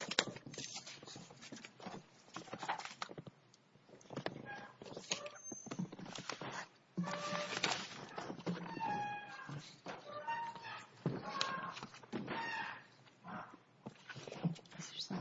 This is the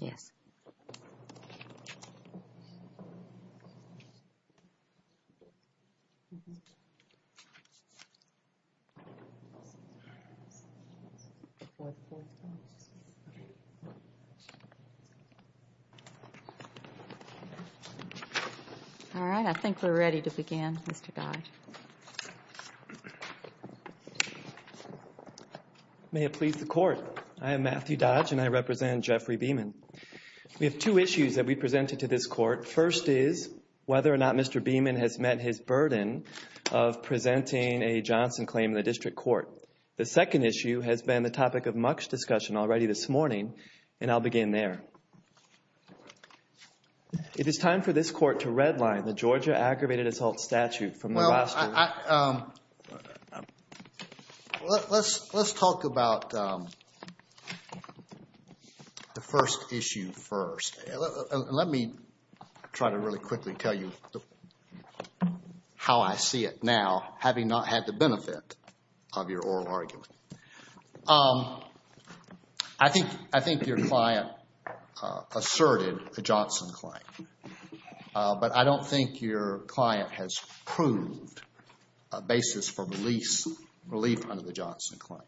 Yes. For the fourth. All right. I think we're ready to begin Mr gosh. May it please the court. I am Matthew Dodge and I represent Jeffrey Beaman. We have two issues that we presented to this court. First is whether or not Mr Beaman has met his burden of presenting a Johnson claim in the district court. The second issue has been the topic of much discussion already this morning and I'll begin there. It is time for this court to redline the Georgia aggravated assault statute from the last year. Let's let's talk about the first issue first. Let me try to really quickly tell you how I see it now having not had the benefit of your oral argument. I think I think your client asserted a Johnson claim, but I don't think your client has proved a basis for relief under the Johnson claim.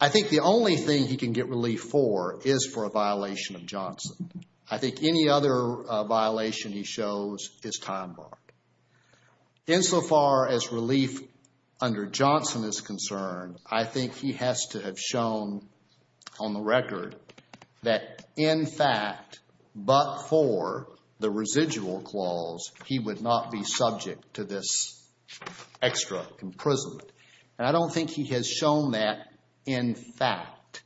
I think the only thing he can get relief for is for a violation of Johnson. I think any other violation he shows is time barred. Insofar as relief under Johnson is concerned, I think he has to have shown on the record that in fact, but for the residual clause, he would not be subject to this extra imprisonment. And I don't think he has shown that in fact.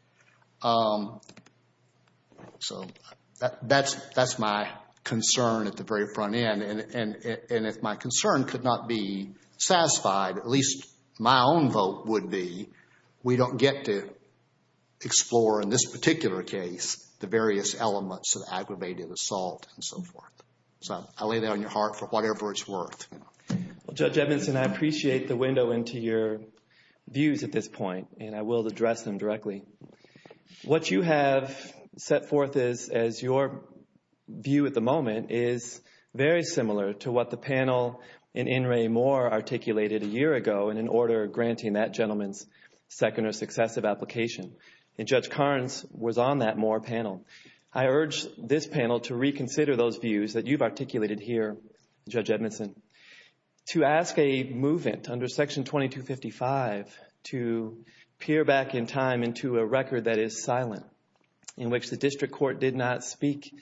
So that's that's my concern at the very front end. And if my concern could not be satisfied, at least my own vote would be. We don't get to explore in this particular case, the various elements of aggravated assault and so forth. So I lay that on your heart for whatever it's worth. Judge Edmondson, I appreciate the window into your views at this point, and I will address them directly. What you have set forth is as your view at the moment is very similar to what the panel in In re more articulated a year ago in an order granting that gentleman's second or successive application. And Judge Carnes was on that more panel. I urge this panel to reconsider those views that you've articulated here. Judge Edmondson, to ask a movement under Section 2255 to peer back in time into a record that is silent in which the district court did not speak.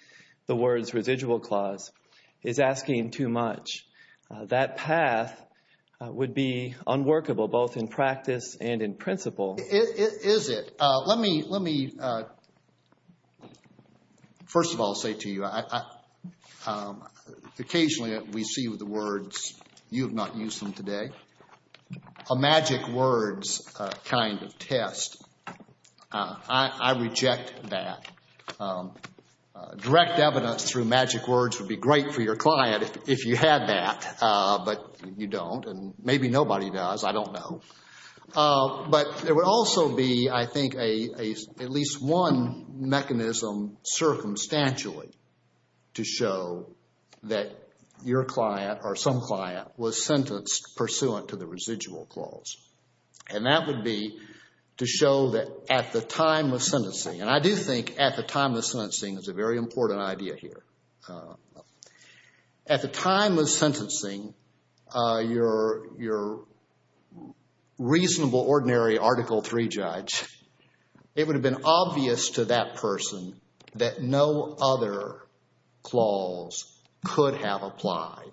The words residual clause is asking too much. That path would be unworkable both in practice and in principle. Is it? Let me first of all say to you, occasionally we see with the words, you have not used them today, a magic words kind of test. I reject that. Direct evidence through magic words would be great for your client if you had that. But you don't, and maybe nobody does. I don't know. But there would also be, I think, at least one mechanism circumstantially to show that your client or some client was sentenced pursuant to the residual clause. And that would be to show that at the time of sentencing, and I do think at the time of sentencing is a very important idea here. At the time of sentencing, your reasonable, ordinary Article III judge, it would have been obvious to that person that no other clause could have applied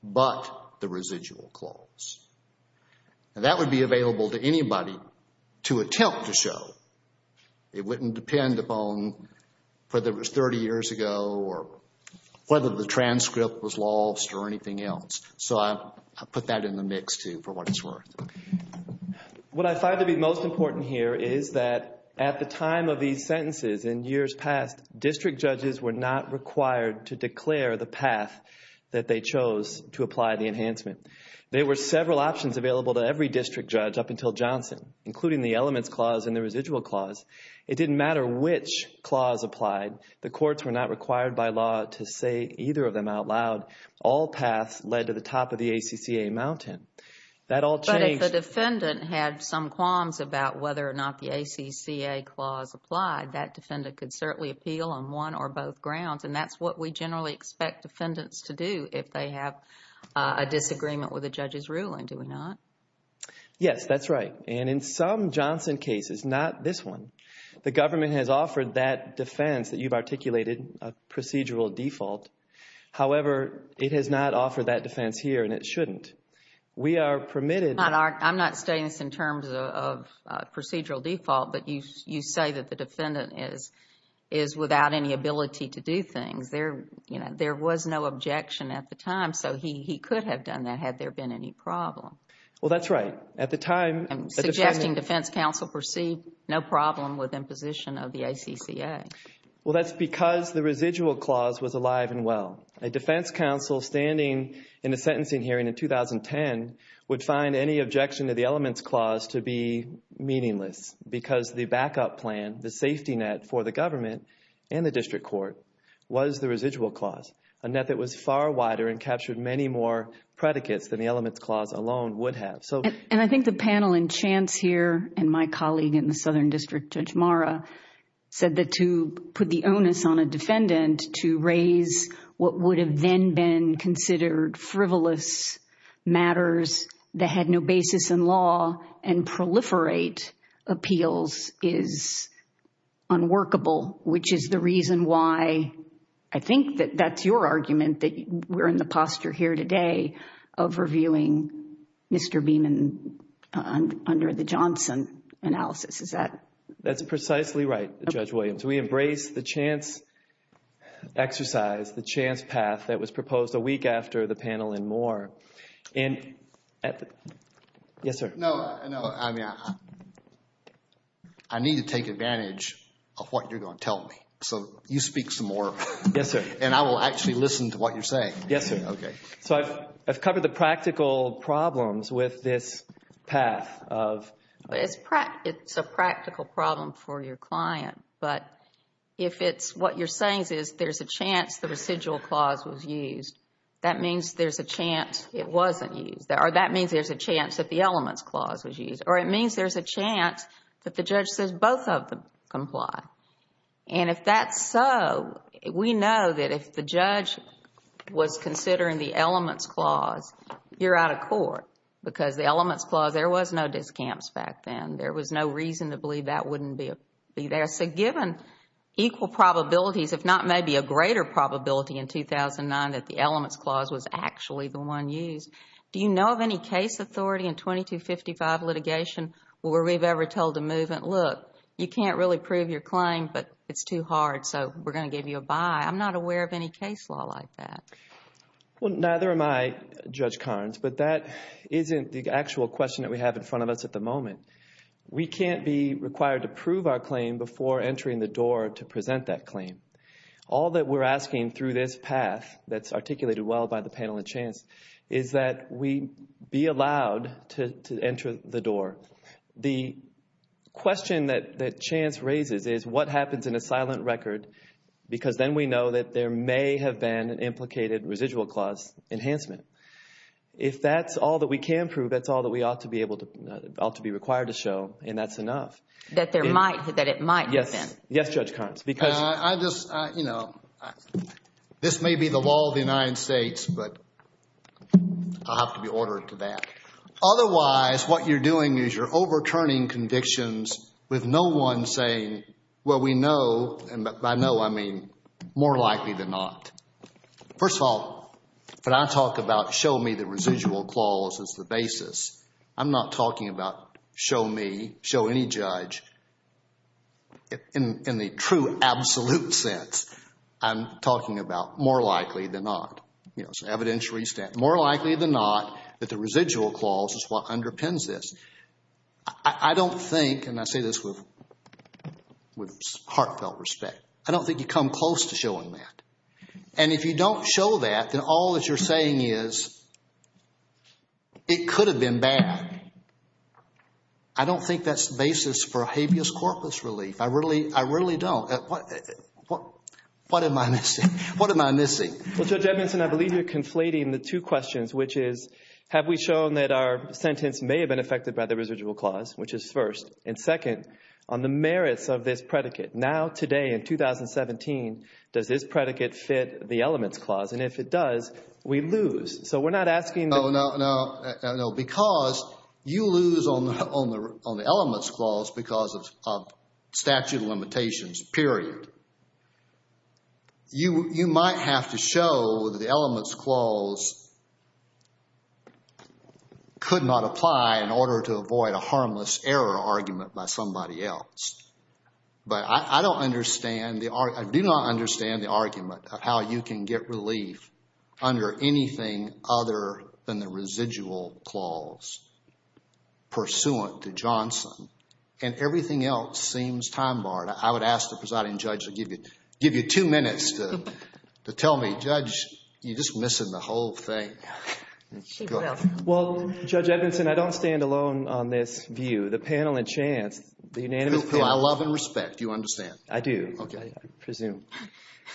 but the residual clause. And that would be available to anybody to attempt to show. It wouldn't depend upon whether it was 30 years ago or whether the transcript was lost or anything else. So I put that in the mix too for what it's worth. What I find to be most important here is that at the time of these sentences, in years past, district judges were not required to declare the path that they chose to apply the enhancement. There were several options available to every district judge up until Johnson, including the elements clause and the residual clause. It didn't matter which clause applied. The courts were not required by law to say either of them out loud. All paths led to the top of the ACCA mountain. That all changed. But if the defendant had some qualms about whether or not the ACCA clause applied, that defendant could certainly appeal on one or both grounds. And that's what we generally expect defendants to do if they have a disagreement with a judge's ruling, do we not? Yes, that's right. And in some Johnson cases, not this one, the government has offered that defense that you've articulated a procedural default. However, it has not offered that defense here and it shouldn't. We are permitted… I'm not stating this in terms of procedural default, but you say that the defendant is without any ability to do things. There was no objection at the time, so he could have done that had there been any problem. Well, that's right. At the time… I'm suggesting defense counsel perceived no problem with imposition of the ACCA. Well, that's because the residual clause was alive and well. A defense counsel standing in a sentencing hearing in 2010 would find any objection to the elements clause to be meaningless because the backup plan, the safety net for the government and the district court was the residual clause, a net that was far wider and captured many more predicates than the elements clause alone would have. And I think the panel in chance here and my colleague in the Southern District, Judge Mara, said that to put the onus on a defendant to raise what would have then been considered frivolous matters that had no basis in law and proliferate appeals is unworkable, which is the reason why I think that that's your argument that we're in the posture here today of revealing Mr. Beaman under the Johnson analysis. Is that… That's precisely right, Judge Williams. We embrace the chance exercise, the chance path that was proposed a week after the panel and more. And… Yes, sir. No, I mean, I need to take advantage of what you're going to tell me. So you speak some more. Yes, sir. And I will actually listen to what you're saying. Yes, sir. Okay. So I've covered the practical problems with this path of… It's a practical problem for your client. But if it's what you're saying is there's a chance the residual clause was used, that means there's a chance it wasn't used. Or that means there's a chance that the elements clause was used. Or it means there's a chance that the judge says both of them comply. And if that's so, we know that if the judge was considering the elements clause, you're out of court. Because the elements clause, there was no discamps back then. There was no reason to believe that wouldn't be there. And so given equal probabilities, if not maybe a greater probability in 2009 that the elements clause was actually the one used, do you know of any case authority in 2255 litigation where we've ever told the movement, look, you can't really prove your claim, but it's too hard, so we're going to give you a bye? I'm not aware of any case law like that. Well, neither am I, Judge Carnes. But that isn't the actual question that we have in front of us at the moment. We can't be required to prove our claim before entering the door to present that claim. All that we're asking through this path that's articulated well by the panel and Chance is that we be allowed to enter the door. The question that Chance raises is what happens in a silent record, because then we know that there may have been an implicated residual clause enhancement. If that's all that we can prove, that's all that we ought to be able to, ought to be required to show, and that's enough. That there might, that it might have been. Yes. Yes, Judge Carnes. Because I just, you know, this may be the law of the United States, but I'll have to be ordered to that. Otherwise, what you're doing is you're overturning convictions with no one saying, well, we know, and by know I mean more likely than not. First of all, when I talk about show me the residual clause as the basis, I'm not talking about show me, show any judge. In the true absolute sense, I'm talking about more likely than not. It's an evidentiary statement. More likely than not that the residual clause is what underpins this. I don't think, and I say this with heartfelt respect, I don't think you come close to showing that. And if you don't show that, then all that you're saying is it could have been bad. I don't think that's the basis for habeas corpus relief. I really, I really don't. What am I missing? What am I missing? Well, Judge Edmondson, I believe you're conflating the two questions, which is have we shown that our sentence may have been affected by the residual clause, which is first. And second, on the merits of this predicate. Now, today, in 2017, does this predicate fit the elements clause? And if it does, we lose. So we're not asking. Oh, no, no. No, because you lose on the elements clause because of statute of limitations, period. You might have to show that the elements clause could not apply in order to avoid a harmless error argument by somebody else. But I don't understand, I do not understand the argument of how you can get relief under anything other than the residual clause pursuant to Johnson. And everything else seems time-barred. I would ask the presiding judge to give you two minutes to tell me, judge, you're just missing the whole thing. She will. Well, Judge Edmondson, I don't stand alone on this view. The panel and chance, the unanimous bill. I love and respect. You understand. I do. I presume.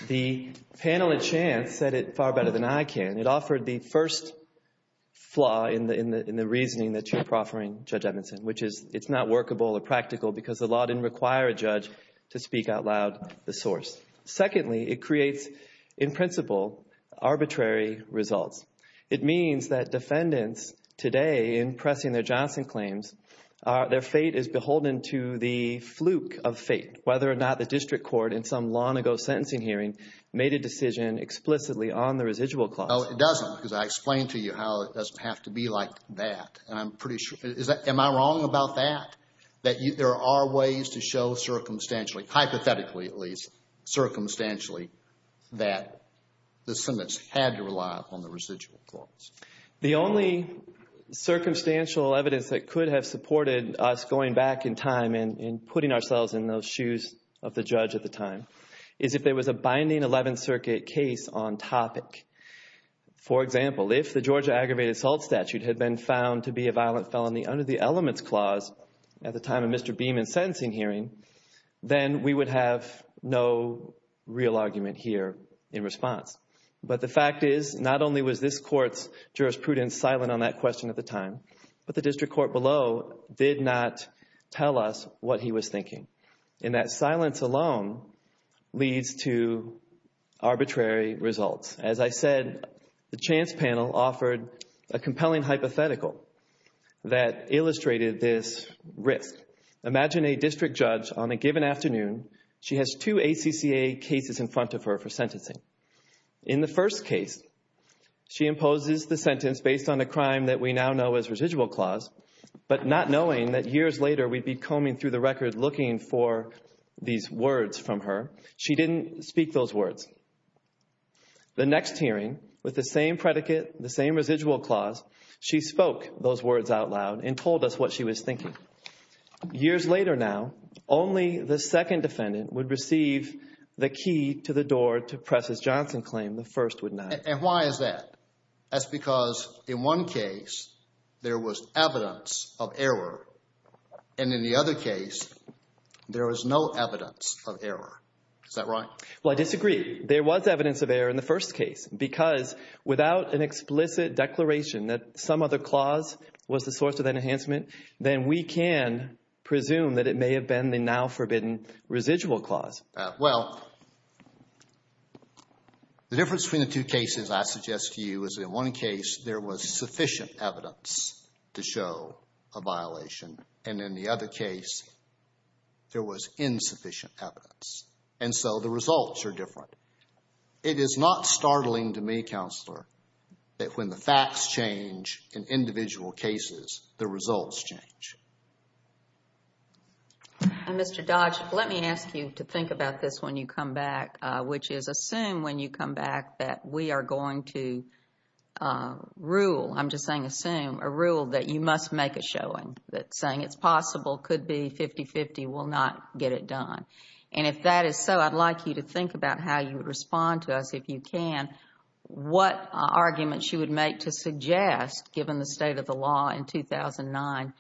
The panel and chance said it far better than I can. It offered the first flaw in the reasoning that you're proffering, Judge Edmondson, which is it's not workable or practical because the law didn't require a judge to speak out loud the source. Secondly, it creates, in principle, arbitrary results. It means that defendants today, in pressing their Johnson claims, their fate is beholden to the fluke of fate. Whether or not the district court in some long-ago sentencing hearing made a decision explicitly on the residual clause. No, it doesn't. Because I explained to you how it doesn't have to be like that. And I'm pretty sure. Am I wrong about that? That there are ways to show circumstantially, hypothetically at least, circumstantially, that the sentence had to rely upon the residual clause. The only circumstantial evidence that could have supported us going back in time and putting ourselves in those shoes of the judge at the time is if there was a binding 11th Circuit case on topic. For example, if the Georgia aggravated assault statute had been found to be a violent felony under the elements clause at the time of Mr. Beeman's sentencing hearing, then we would have no real argument here in response. But the fact is, not only was this court's jurisprudence silent on that question at the time, but the district court below did not tell us what he was thinking. And that silence alone leads to arbitrary results. As I said, the chance panel offered a compelling hypothetical that illustrated this risk. Imagine a district judge on a given afternoon. She has two ACCA cases in front of her for sentencing. In the first case, she imposes the sentence based on a crime that we now know as residual clause, but not knowing that years later we'd be combing through the record looking for these words from her. She didn't speak those words. The next hearing, with the same predicate, the same residual clause, she spoke those words out loud and told us what she was thinking. Years later now, only the second defendant would receive the key to the door to press his Johnson claim. The first would not. And why is that? That's because in one case, there was evidence of error. And in the other case, there was no evidence of error. Is that right? Well, I disagree. There was evidence of error in the first case because without an explicit declaration that some other clause was the source of that enhancement, then we can presume that it may have been the now forbidden residual clause. Well, the difference between the two cases I suggest to you is in one case, there was sufficient evidence to show a violation. And in the other case, there was insufficient evidence. And so the results are different. It is not startling to me, Counselor, that when the facts change in individual cases, the results change. Mr. Dodge, let me ask you to think about this when you come back, which is assume when you come back that we are going to rule, I'm just saying assume, a rule that you must make a showing, that saying it's possible could be 50-50, we'll not get it done. And if that is so, I'd like you to think about how you would respond to us if you can, what arguments you would make to suggest, given the state of the law in 2009,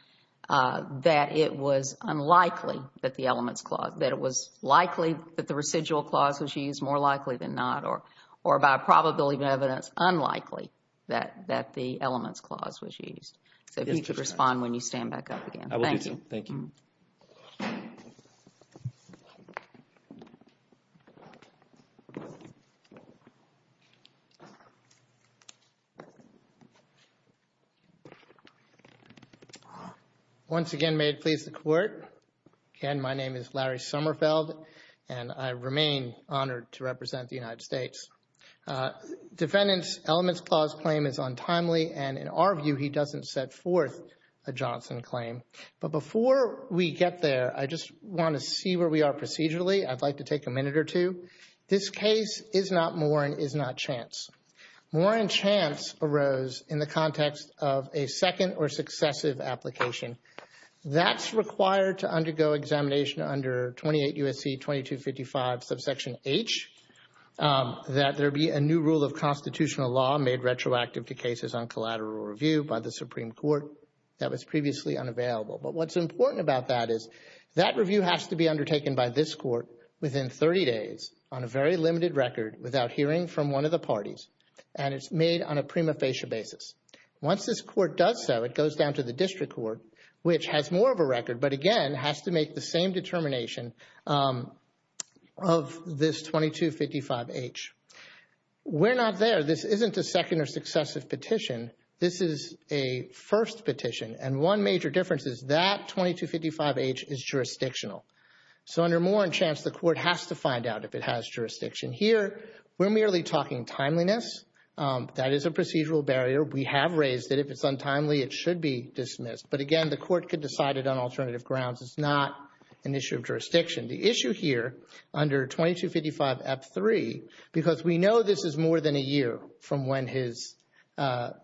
that it was unlikely that the elements clause, that it was likely that the residual clause was used, more likely than not, or by probability of evidence, unlikely that the elements clause was used. So you could respond when you stand back up again. I will do so. Thank you. Thank you. Once again, may it please the Court. Again, my name is Larry Sommerfeld, and I remain honored to represent the United States. Defendant's elements clause claim is untimely, and in our view, he doesn't set forth a Johnson claim. But before we get there, I just want to see where we are procedurally. I'd like to take a minute or two. This case is not Moore and is not Chance. Moore and Chance arose in the context of a second or successive application. That's required to undergo examination under 28 U.S.C. 2255, subsection H, that there be a new rule of constitutional law made retroactive to cases on collateral review by the Supreme Court that was previously unavailable. But what's important about that is that review has to be undertaken by this Court within 30 days, on a very limited record, without hearing from one of the parties, and it's made on a prima facie basis. Once this Court does so, it goes down to the district court, which has more of a record, but again, has to make the same determination of this 2255H. We're not there. This isn't a second or successive petition. This is a first petition, and one major difference is that 2255H is jurisdictional. So under Moore and Chance, the Court has to find out if it has jurisdiction. Here, we're merely talking timeliness. That is a procedural barrier. We have raised it. If it's untimely, it should be dismissed. But again, the Court could decide it on alternative grounds. It's not an issue of jurisdiction. The issue here under 2255F3, because we know this is more than a year from when his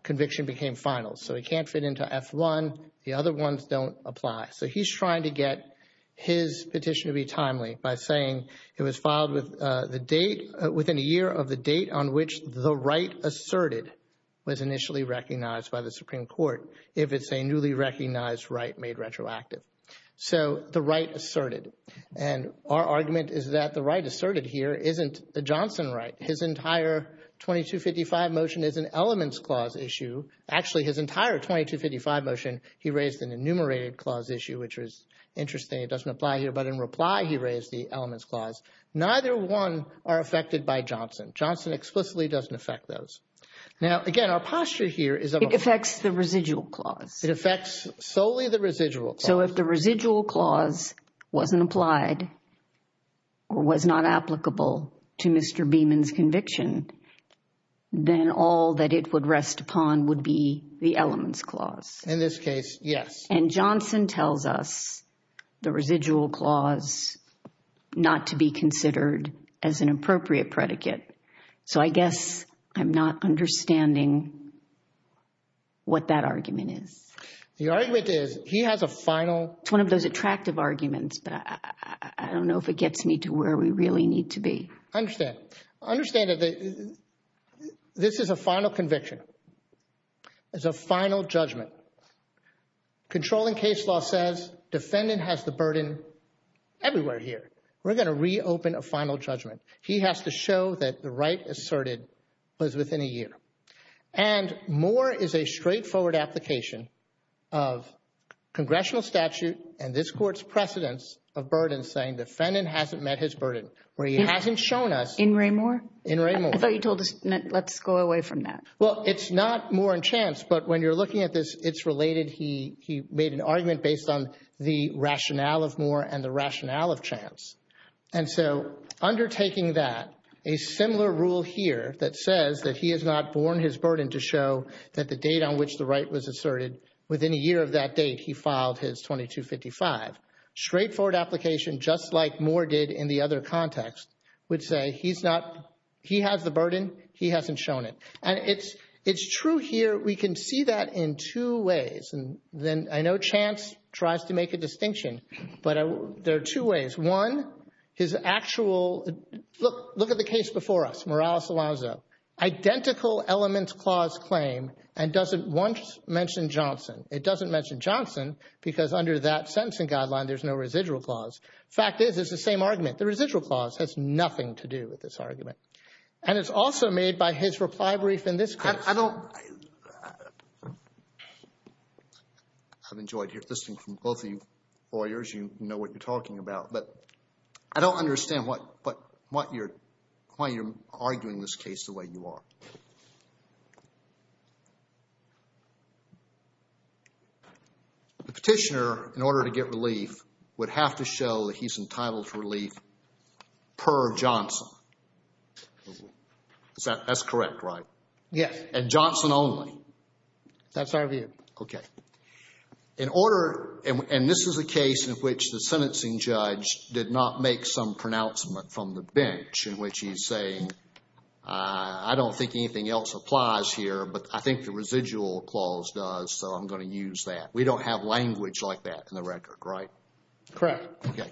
conviction became final, so it can't fit into F1. The other ones don't apply. So he's trying to get his petition to be timely by saying it was filed within a year of the date on which the right asserted was initially recognized by the Supreme Court, if it's a newly recognized right made retroactive. So the right asserted. And our argument is that the right asserted here isn't the Johnson right. His entire 2255 motion is an elements clause issue. Actually, his entire 2255 motion, he raised an enumerated clause issue, which is interesting. It doesn't apply here. But in reply, he raised the elements clause. Neither one are affected by Johnson. Johnson explicitly doesn't affect those. Now, again, our posture here is of a— It affects the residual clause. It affects solely the residual clause. So if the residual clause wasn't applied or was not applicable to Mr. Beeman's conviction, then all that it would rest upon would be the elements clause. In this case, yes. And Johnson tells us the residual clause not to be considered as an appropriate predicate. So I guess I'm not understanding what that argument is. The argument is he has a final— It's one of those attractive arguments, but I don't know if it gets me to where we really need to be. I understand. I understand that this is a final conviction. It's a final judgment. Controlling case law says defendant has the burden everywhere here. We're going to reopen a final judgment. He has to show that the right asserted was within a year. And Moore is a straightforward application of congressional statute and this Court's precedence of burden saying defendant hasn't met his burden, where he hasn't shown us— In Ray Moore? In Ray Moore. I thought you told us let's go away from that. Well, it's not Moore and Chance, but when you're looking at this, it's related. He made an argument based on the rationale of Moore and the rationale of Chance. And so undertaking that, a similar rule here that says that he has not borne his burden to show that the date on which the right was asserted, within a year of that date, he filed his 2255. Straightforward application, just like Moore did in the other context, would say he's not—he has the burden. He hasn't shown it. And it's true here. We can see that in two ways, and then I know Chance tries to make a distinction, but there are two ways. One, his actual—look at the case before us, Morales-Alonzo. Identical elements clause claim and doesn't mention Johnson. It doesn't mention Johnson because under that sentencing guideline, there's no residual clause. Fact is, it's the same argument. The residual clause has nothing to do with this argument. And it's also made by his reply brief in this case. I don't—I've enjoyed listening from both of you lawyers. You know what you're talking about. But I don't understand why you're arguing this case the way you are. The petitioner, in order to get relief, would have to show that he's entitled to relief per Johnson. That's correct, right? Yes. And Johnson only. That's our view. Okay. In order—and this is a case in which the sentencing judge did not make some pronouncement from the bench in which he's saying, I don't think anything else applies here, but I think the residual clause does, so I'm going to use that. We don't have language like that in the record, right? Correct. Okay.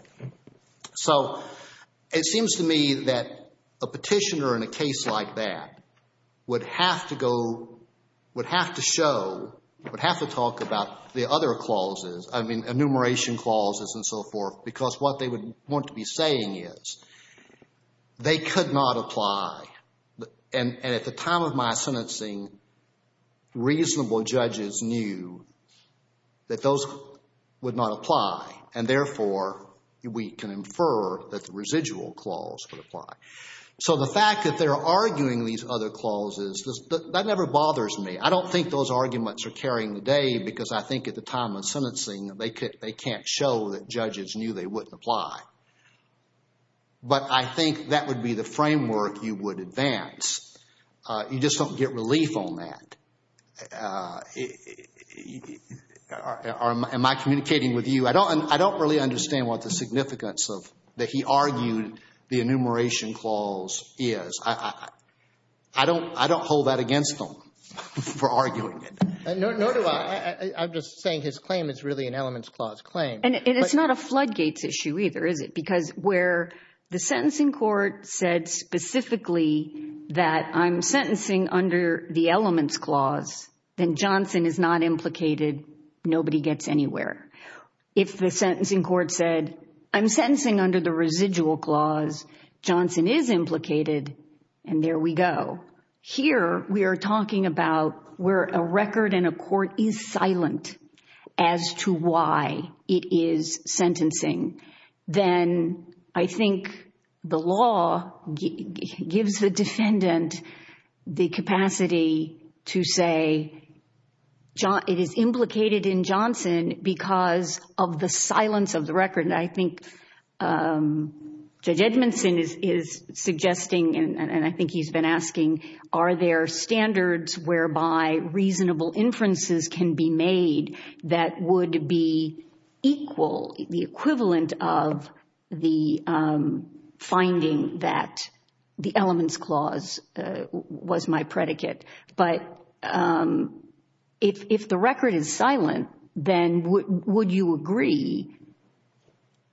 So it seems to me that a petitioner in a case like that would have to go—would have to show, would have to talk about the other clauses, I mean enumeration clauses and so forth, because what they would want to be saying is they could not apply. And at the time of my sentencing, reasonable judges knew that those would not apply, and therefore we can infer that the residual clause would apply. So the fact that they're arguing these other clauses, that never bothers me. I don't think those arguments are carrying the day because I think at the time of sentencing, they can't show that judges knew they wouldn't apply. But I think that would be the framework you would advance. You just don't get relief on that. Am I communicating with you? I don't really understand what the significance of that he argued the enumeration clause is. I don't hold that against him for arguing it. Nor do I. I'm just saying his claim is really an elements clause claim. And it's not a floodgates issue either, is it? Because where the sentencing court said specifically that I'm sentencing under the elements clause, then Johnson is not implicated, nobody gets anywhere. If the sentencing court said I'm sentencing under the residual clause, Johnson is implicated, and there we go. Here we are talking about where a record in a court is silent as to why it is sentencing. Then I think the law gives the defendant the capacity to say it is implicated in Johnson because of the silence of the record. I think Judge Edmondson is suggesting, and I think he's been asking, are there standards whereby reasonable inferences can be made that would be equal, the equivalent of the finding that the elements clause was my predicate. But if the record is silent, then would you agree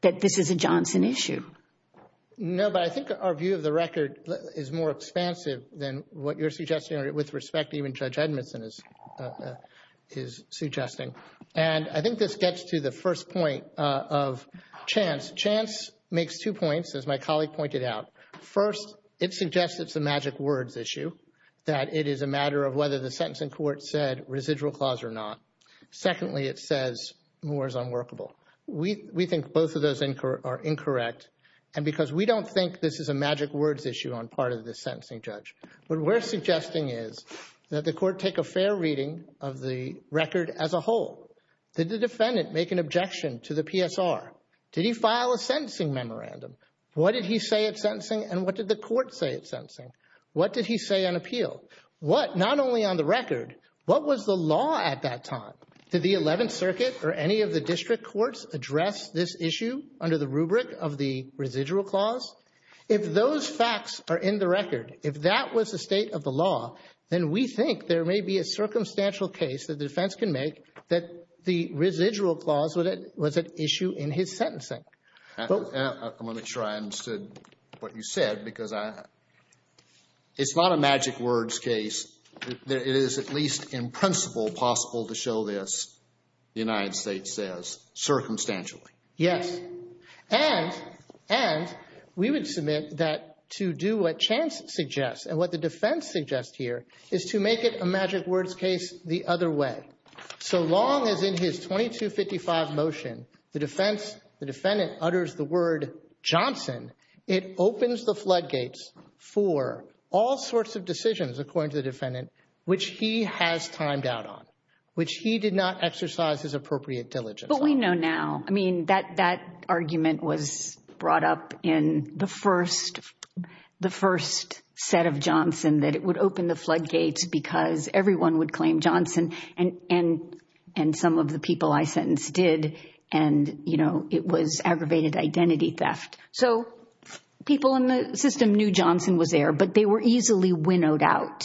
that this is a Johnson issue? No, but I think our view of the record is more expansive than what you're suggesting or with respect to even Judge Edmondson is suggesting. And I think this gets to the first point of chance. Chance makes two points, as my colleague pointed out. First, it suggests it's a magic words issue, that it is a matter of whether the sentencing court said residual clause or not. Secondly, it says Moore's unworkable. We think both of those are incorrect. And because we don't think this is a magic words issue on part of the sentencing judge, what we're suggesting is that the court take a fair reading of the record as a whole. Did the defendant make an objection to the PSR? Did he file a sentencing memorandum? What did he say at sentencing and what did the court say at sentencing? What did he say on appeal? What, not only on the record, what was the law at that time? Did the 11th Circuit or any of the district courts address this issue under the rubric of the residual clause? If those facts are in the record, if that was the state of the law, then we think there may be a circumstantial case that the defense can make that the residual clause was at issue in his sentencing. I'm going to try and understand what you said because it's not a magic words case. It is at least in principle possible to show this, the United States says, circumstantially. Yes. And we would submit that to do what chance suggests and what the defense suggests here is to make it a magic words case the other way. So long as in his 2255 motion, the defense, the defendant utters the word Johnson, it opens the floodgates for all sorts of decisions, according to the defendant, which he has timed out on, which he did not exercise his appropriate diligence. But we know now, I mean, that that argument was brought up in the first, the first set of Johnson that it would open the floodgates because everyone would claim Johnson. And and and some of the people I sentenced did. And, you know, it was aggravated identity theft. So people in the system knew Johnson was there, but they were easily winnowed out.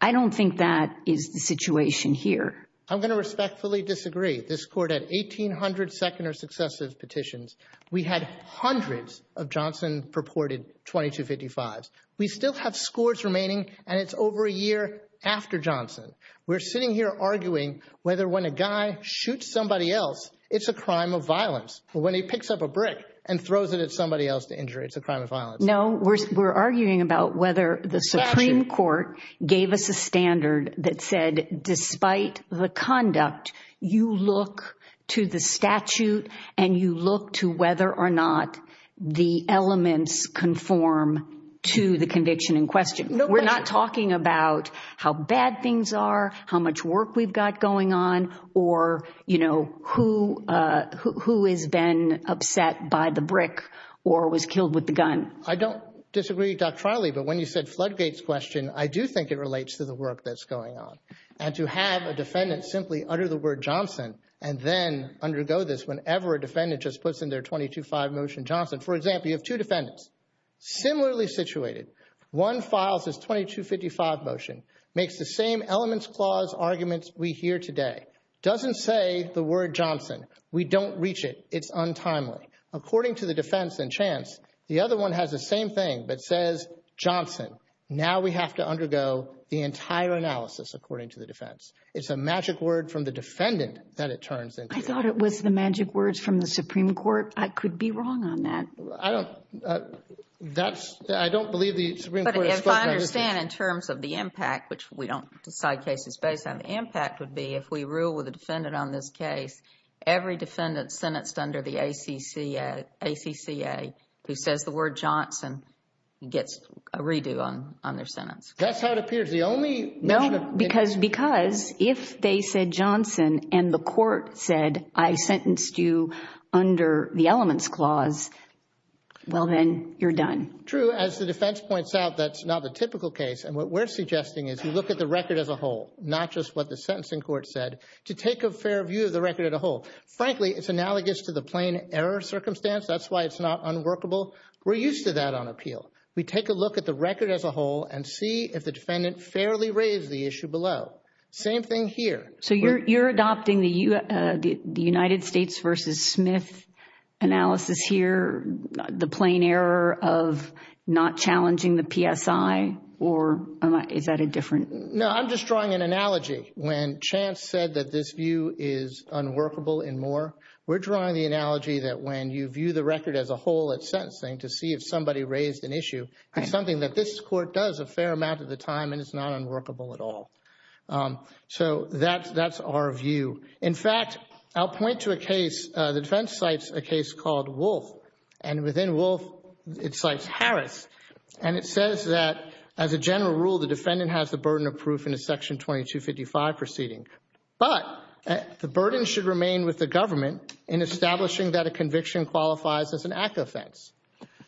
I don't think that is the situation here. I'm going to respectfully disagree. This court at eighteen hundred second or successive petitions. We had hundreds of Johnson purported 2255. We still have scores remaining and it's over a year after Johnson. We're sitting here arguing whether when a guy shoots somebody else, it's a crime of violence. But when he picks up a brick and throws it at somebody else to injure, it's a crime of violence. No, we're we're arguing about whether the Supreme Court gave us a standard that said despite the conduct, you look to the statute and you look to whether or not the elements conform to the conviction in question. We're not talking about how bad things are, how much work we've got going on or, you know, who who is then upset by the brick or was killed with the gun. I don't disagree, Dr. Riley. But when you said floodgates question, I do think it relates to the work that's going on. And to have a defendant simply under the word Johnson and then undergo this whenever a defendant just puts in their 225 motion, Johnson, for example, you have two defendants similarly situated. One files his 2255 motion, makes the same elements clause arguments we hear today, doesn't say the word Johnson. We don't reach it. It's untimely, according to the defense and chance. The other one has the same thing, but says Johnson. Now we have to undergo the entire analysis, according to the defense. It's a magic word from the defendant that it turns. I thought it was the magic words from the Supreme Court. I could be wrong on that. I don't that's I don't believe the Supreme Court. I understand in terms of the impact, which we don't decide cases based on the impact would be if we rule with a defendant on this case. Every defendant sentenced under the ACC, ACCA, who says the word Johnson gets a redo on on their sentence. That's how it appears. The only. No, because because if they said Johnson and the court said I sentenced you under the elements clause, well, then you're done. True. As the defense points out, that's not the typical case. And what we're suggesting is you look at the record as a whole, not just what the sentencing court said to take a fair view of the record as a whole. Frankly, it's analogous to the plain error circumstance. That's why it's not unworkable. We're used to that on appeal. We take a look at the record as a whole and see if the defendant fairly raised the issue below. Same thing here. So you're adopting the United States versus Smith analysis here. The plain error of not challenging the PSI or is that a different. No, I'm just drawing an analogy. When Chance said that this view is unworkable and more, we're drawing the analogy that when you view the record as a whole, it's sentencing to see if somebody raised an issue. It's something that this court does a fair amount of the time and it's not unworkable at all. So that's that's our view. In fact, I'll point to a case. The defense cites a case called Wolf and within Wolf, it cites Harris. And it says that as a general rule, the defendant has the burden of proof in a Section 2255 proceeding. But the burden should remain with the government in establishing that a conviction qualifies as an act offense.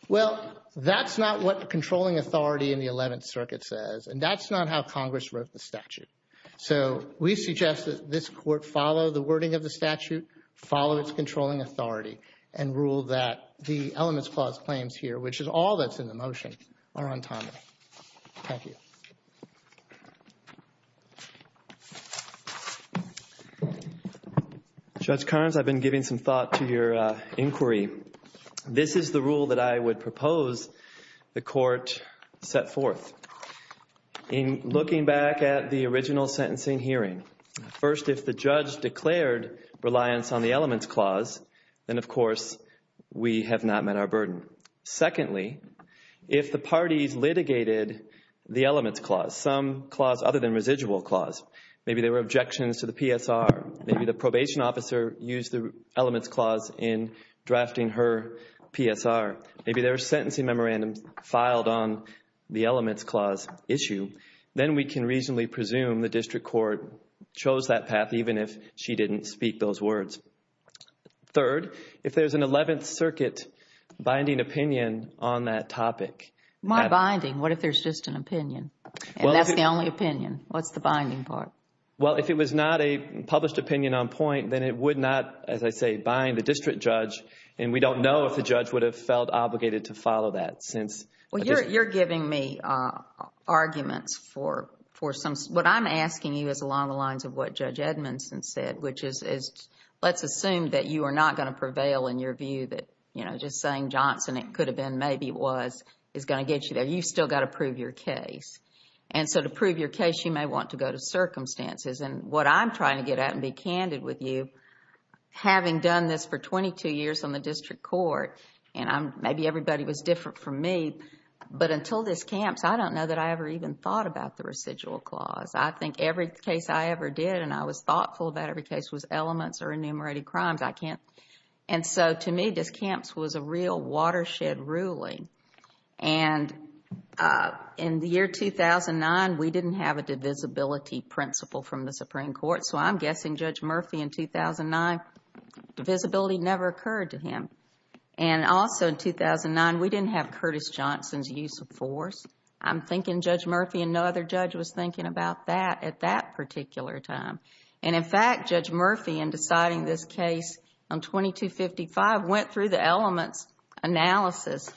Well, that's not what the controlling authority in the 11th Circuit says, and that's not how Congress wrote the statute. So we suggest that this court follow the wording of the statute, follow its controlling authority, and rule that the elements clause claims here, which is all that's in the motion, are untimely. Thank you. Judge Carnes, I've been giving some thought to your inquiry. This is the rule that I would propose the court set forth in looking back at the original sentencing hearing. First, if the judge declared reliance on the elements clause, then of course we have not met our burden. Secondly, if the parties litigated the elements clause, some clause other than residual clause, maybe there were objections to the PSR, maybe the probation officer used the elements clause in drafting her PSR, maybe there were sentencing memorandums filed on the elements clause issue, then we can reasonably presume the district court chose that path even if she didn't speak those words. Third, if there's an 11th Circuit binding opinion on that topic. My binding? What if there's just an opinion and that's the only opinion? What's the binding part? Well, if it was not a published opinion on point, then it would not, as I say, bind the district judge, and we don't know if the judge would have felt obligated to follow that since... You're giving me arguments for some... What I'm asking you is along the lines of what Judge Edmondson said, which is let's assume that you are not going to prevail in your view that just saying Johnson, it could have been, maybe it was, is going to get you there. You've still got to prove your case. To prove your case, you may want to go to circumstances. What I'm trying to get at and be candid with you, having done this for twenty-two years on the district court, and maybe everybody was different from me, but until this camps, I don't know that I ever even thought about the residual clause. I think every case I ever did, and I was thoughtful about every case, was elements or enumerated crimes. I can't... And so, to me, this camps was a real watershed ruling. And in the year 2009, we didn't have a divisibility principle from the Supreme Court, so I'm guessing Judge Murphy in 2009, divisibility never occurred to him. And also in 2009, we didn't have Curtis Johnson's use of force. I'm thinking Judge Murphy and no other judge was thinking about that at that particular time. And in fact, Judge Murphy, in deciding this case on 2255, went through the elements analysis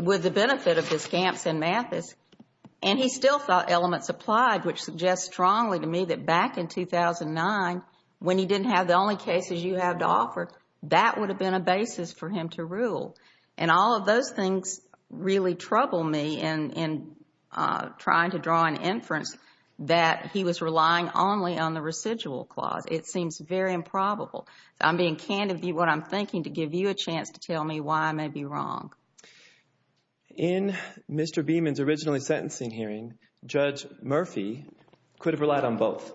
with the benefit of his camps in Mathis, and he still thought elements applied, which suggests strongly to me that back in 2009, when he didn't have the only cases you have to offer, that would have been a basis for him to rule. And all of those things really trouble me in trying to draw an inference that he was relying only on the residual clause. It seems very improbable. I'm being candid of what I'm thinking to give you a chance to tell me why I may be wrong. In Mr. Beeman's originally sentencing hearing, Judge Murphy could have relied on both.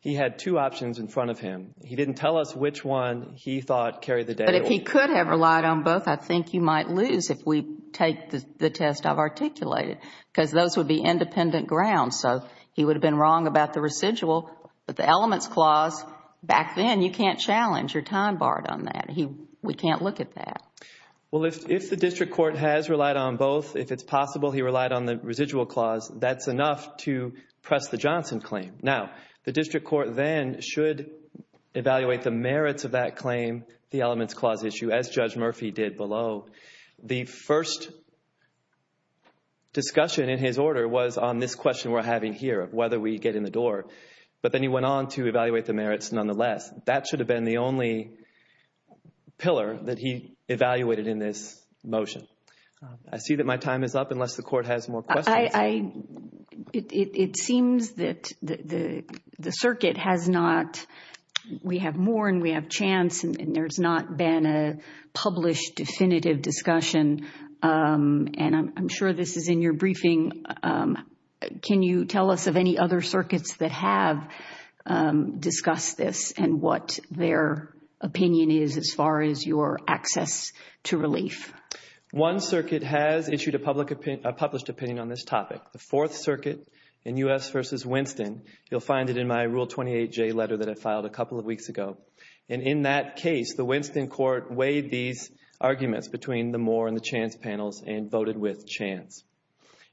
He had two options in front of him. He didn't tell us which one he thought carried the day. But if he could have relied on both, I think you might lose if we take the test I've articulated, because those would be independent grounds. So he would have been wrong about the residual, but the elements clause, back then you can't challenge your time barred on that. We can't look at that. Well, if the district court has relied on both, if it's possible he relied on the residual clause, that's enough to press the Johnson claim. Now, the district court then should evaluate the merits of that claim, the elements clause issue, as Judge Murphy did below. The first discussion in his order was on this question we're having here of whether we get in the door. But then he went on to evaluate the merits nonetheless. That should have been the only pillar that he evaluated in this motion. I see that my time is up unless the court has more questions. It seems that the circuit has not, we have more and we have chance, and there's not been a published definitive discussion, and I'm sure this is in your briefing. Can you tell us of any other circuits that have discussed this and what their opinion is as far as your access to relief? One circuit has issued a published opinion on this topic, the Fourth Circuit in U.S. v. Winston. You'll find it in my Rule 28J letter that I filed a couple of weeks ago. And in that case, the Winston court weighed these arguments between the Moore and the Chance panels and voted with Chance.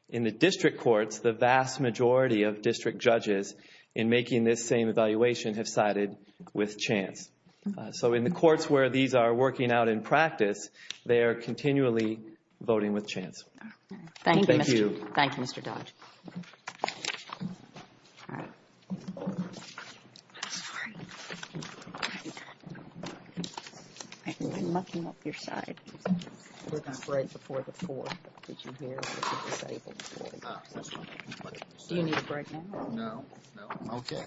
In the district courts, the vast majority of district judges in making this same evaluation have sided with Chance. So in the courts where these are working out in practice, they are continually voting with Chance. Thank you. Thank you, Mr. Dodge. All right. I'm sorry. I'm done. I think I'm mucking up your side. We're going to break before the fourth. Did you hear that we're disabled? Do you need a break now? No. No. Okay.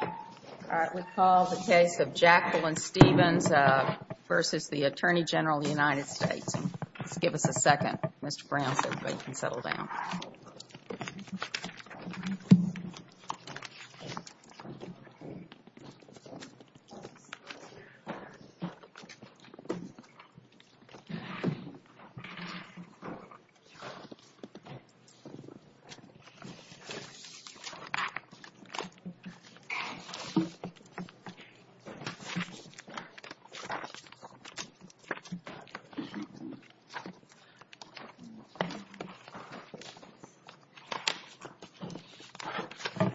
All right. We call the case of Jacqueline Stevens v. the Attorney General of the United States. Give us a second, Mr. Brown, so everybody can settle down. Thank you.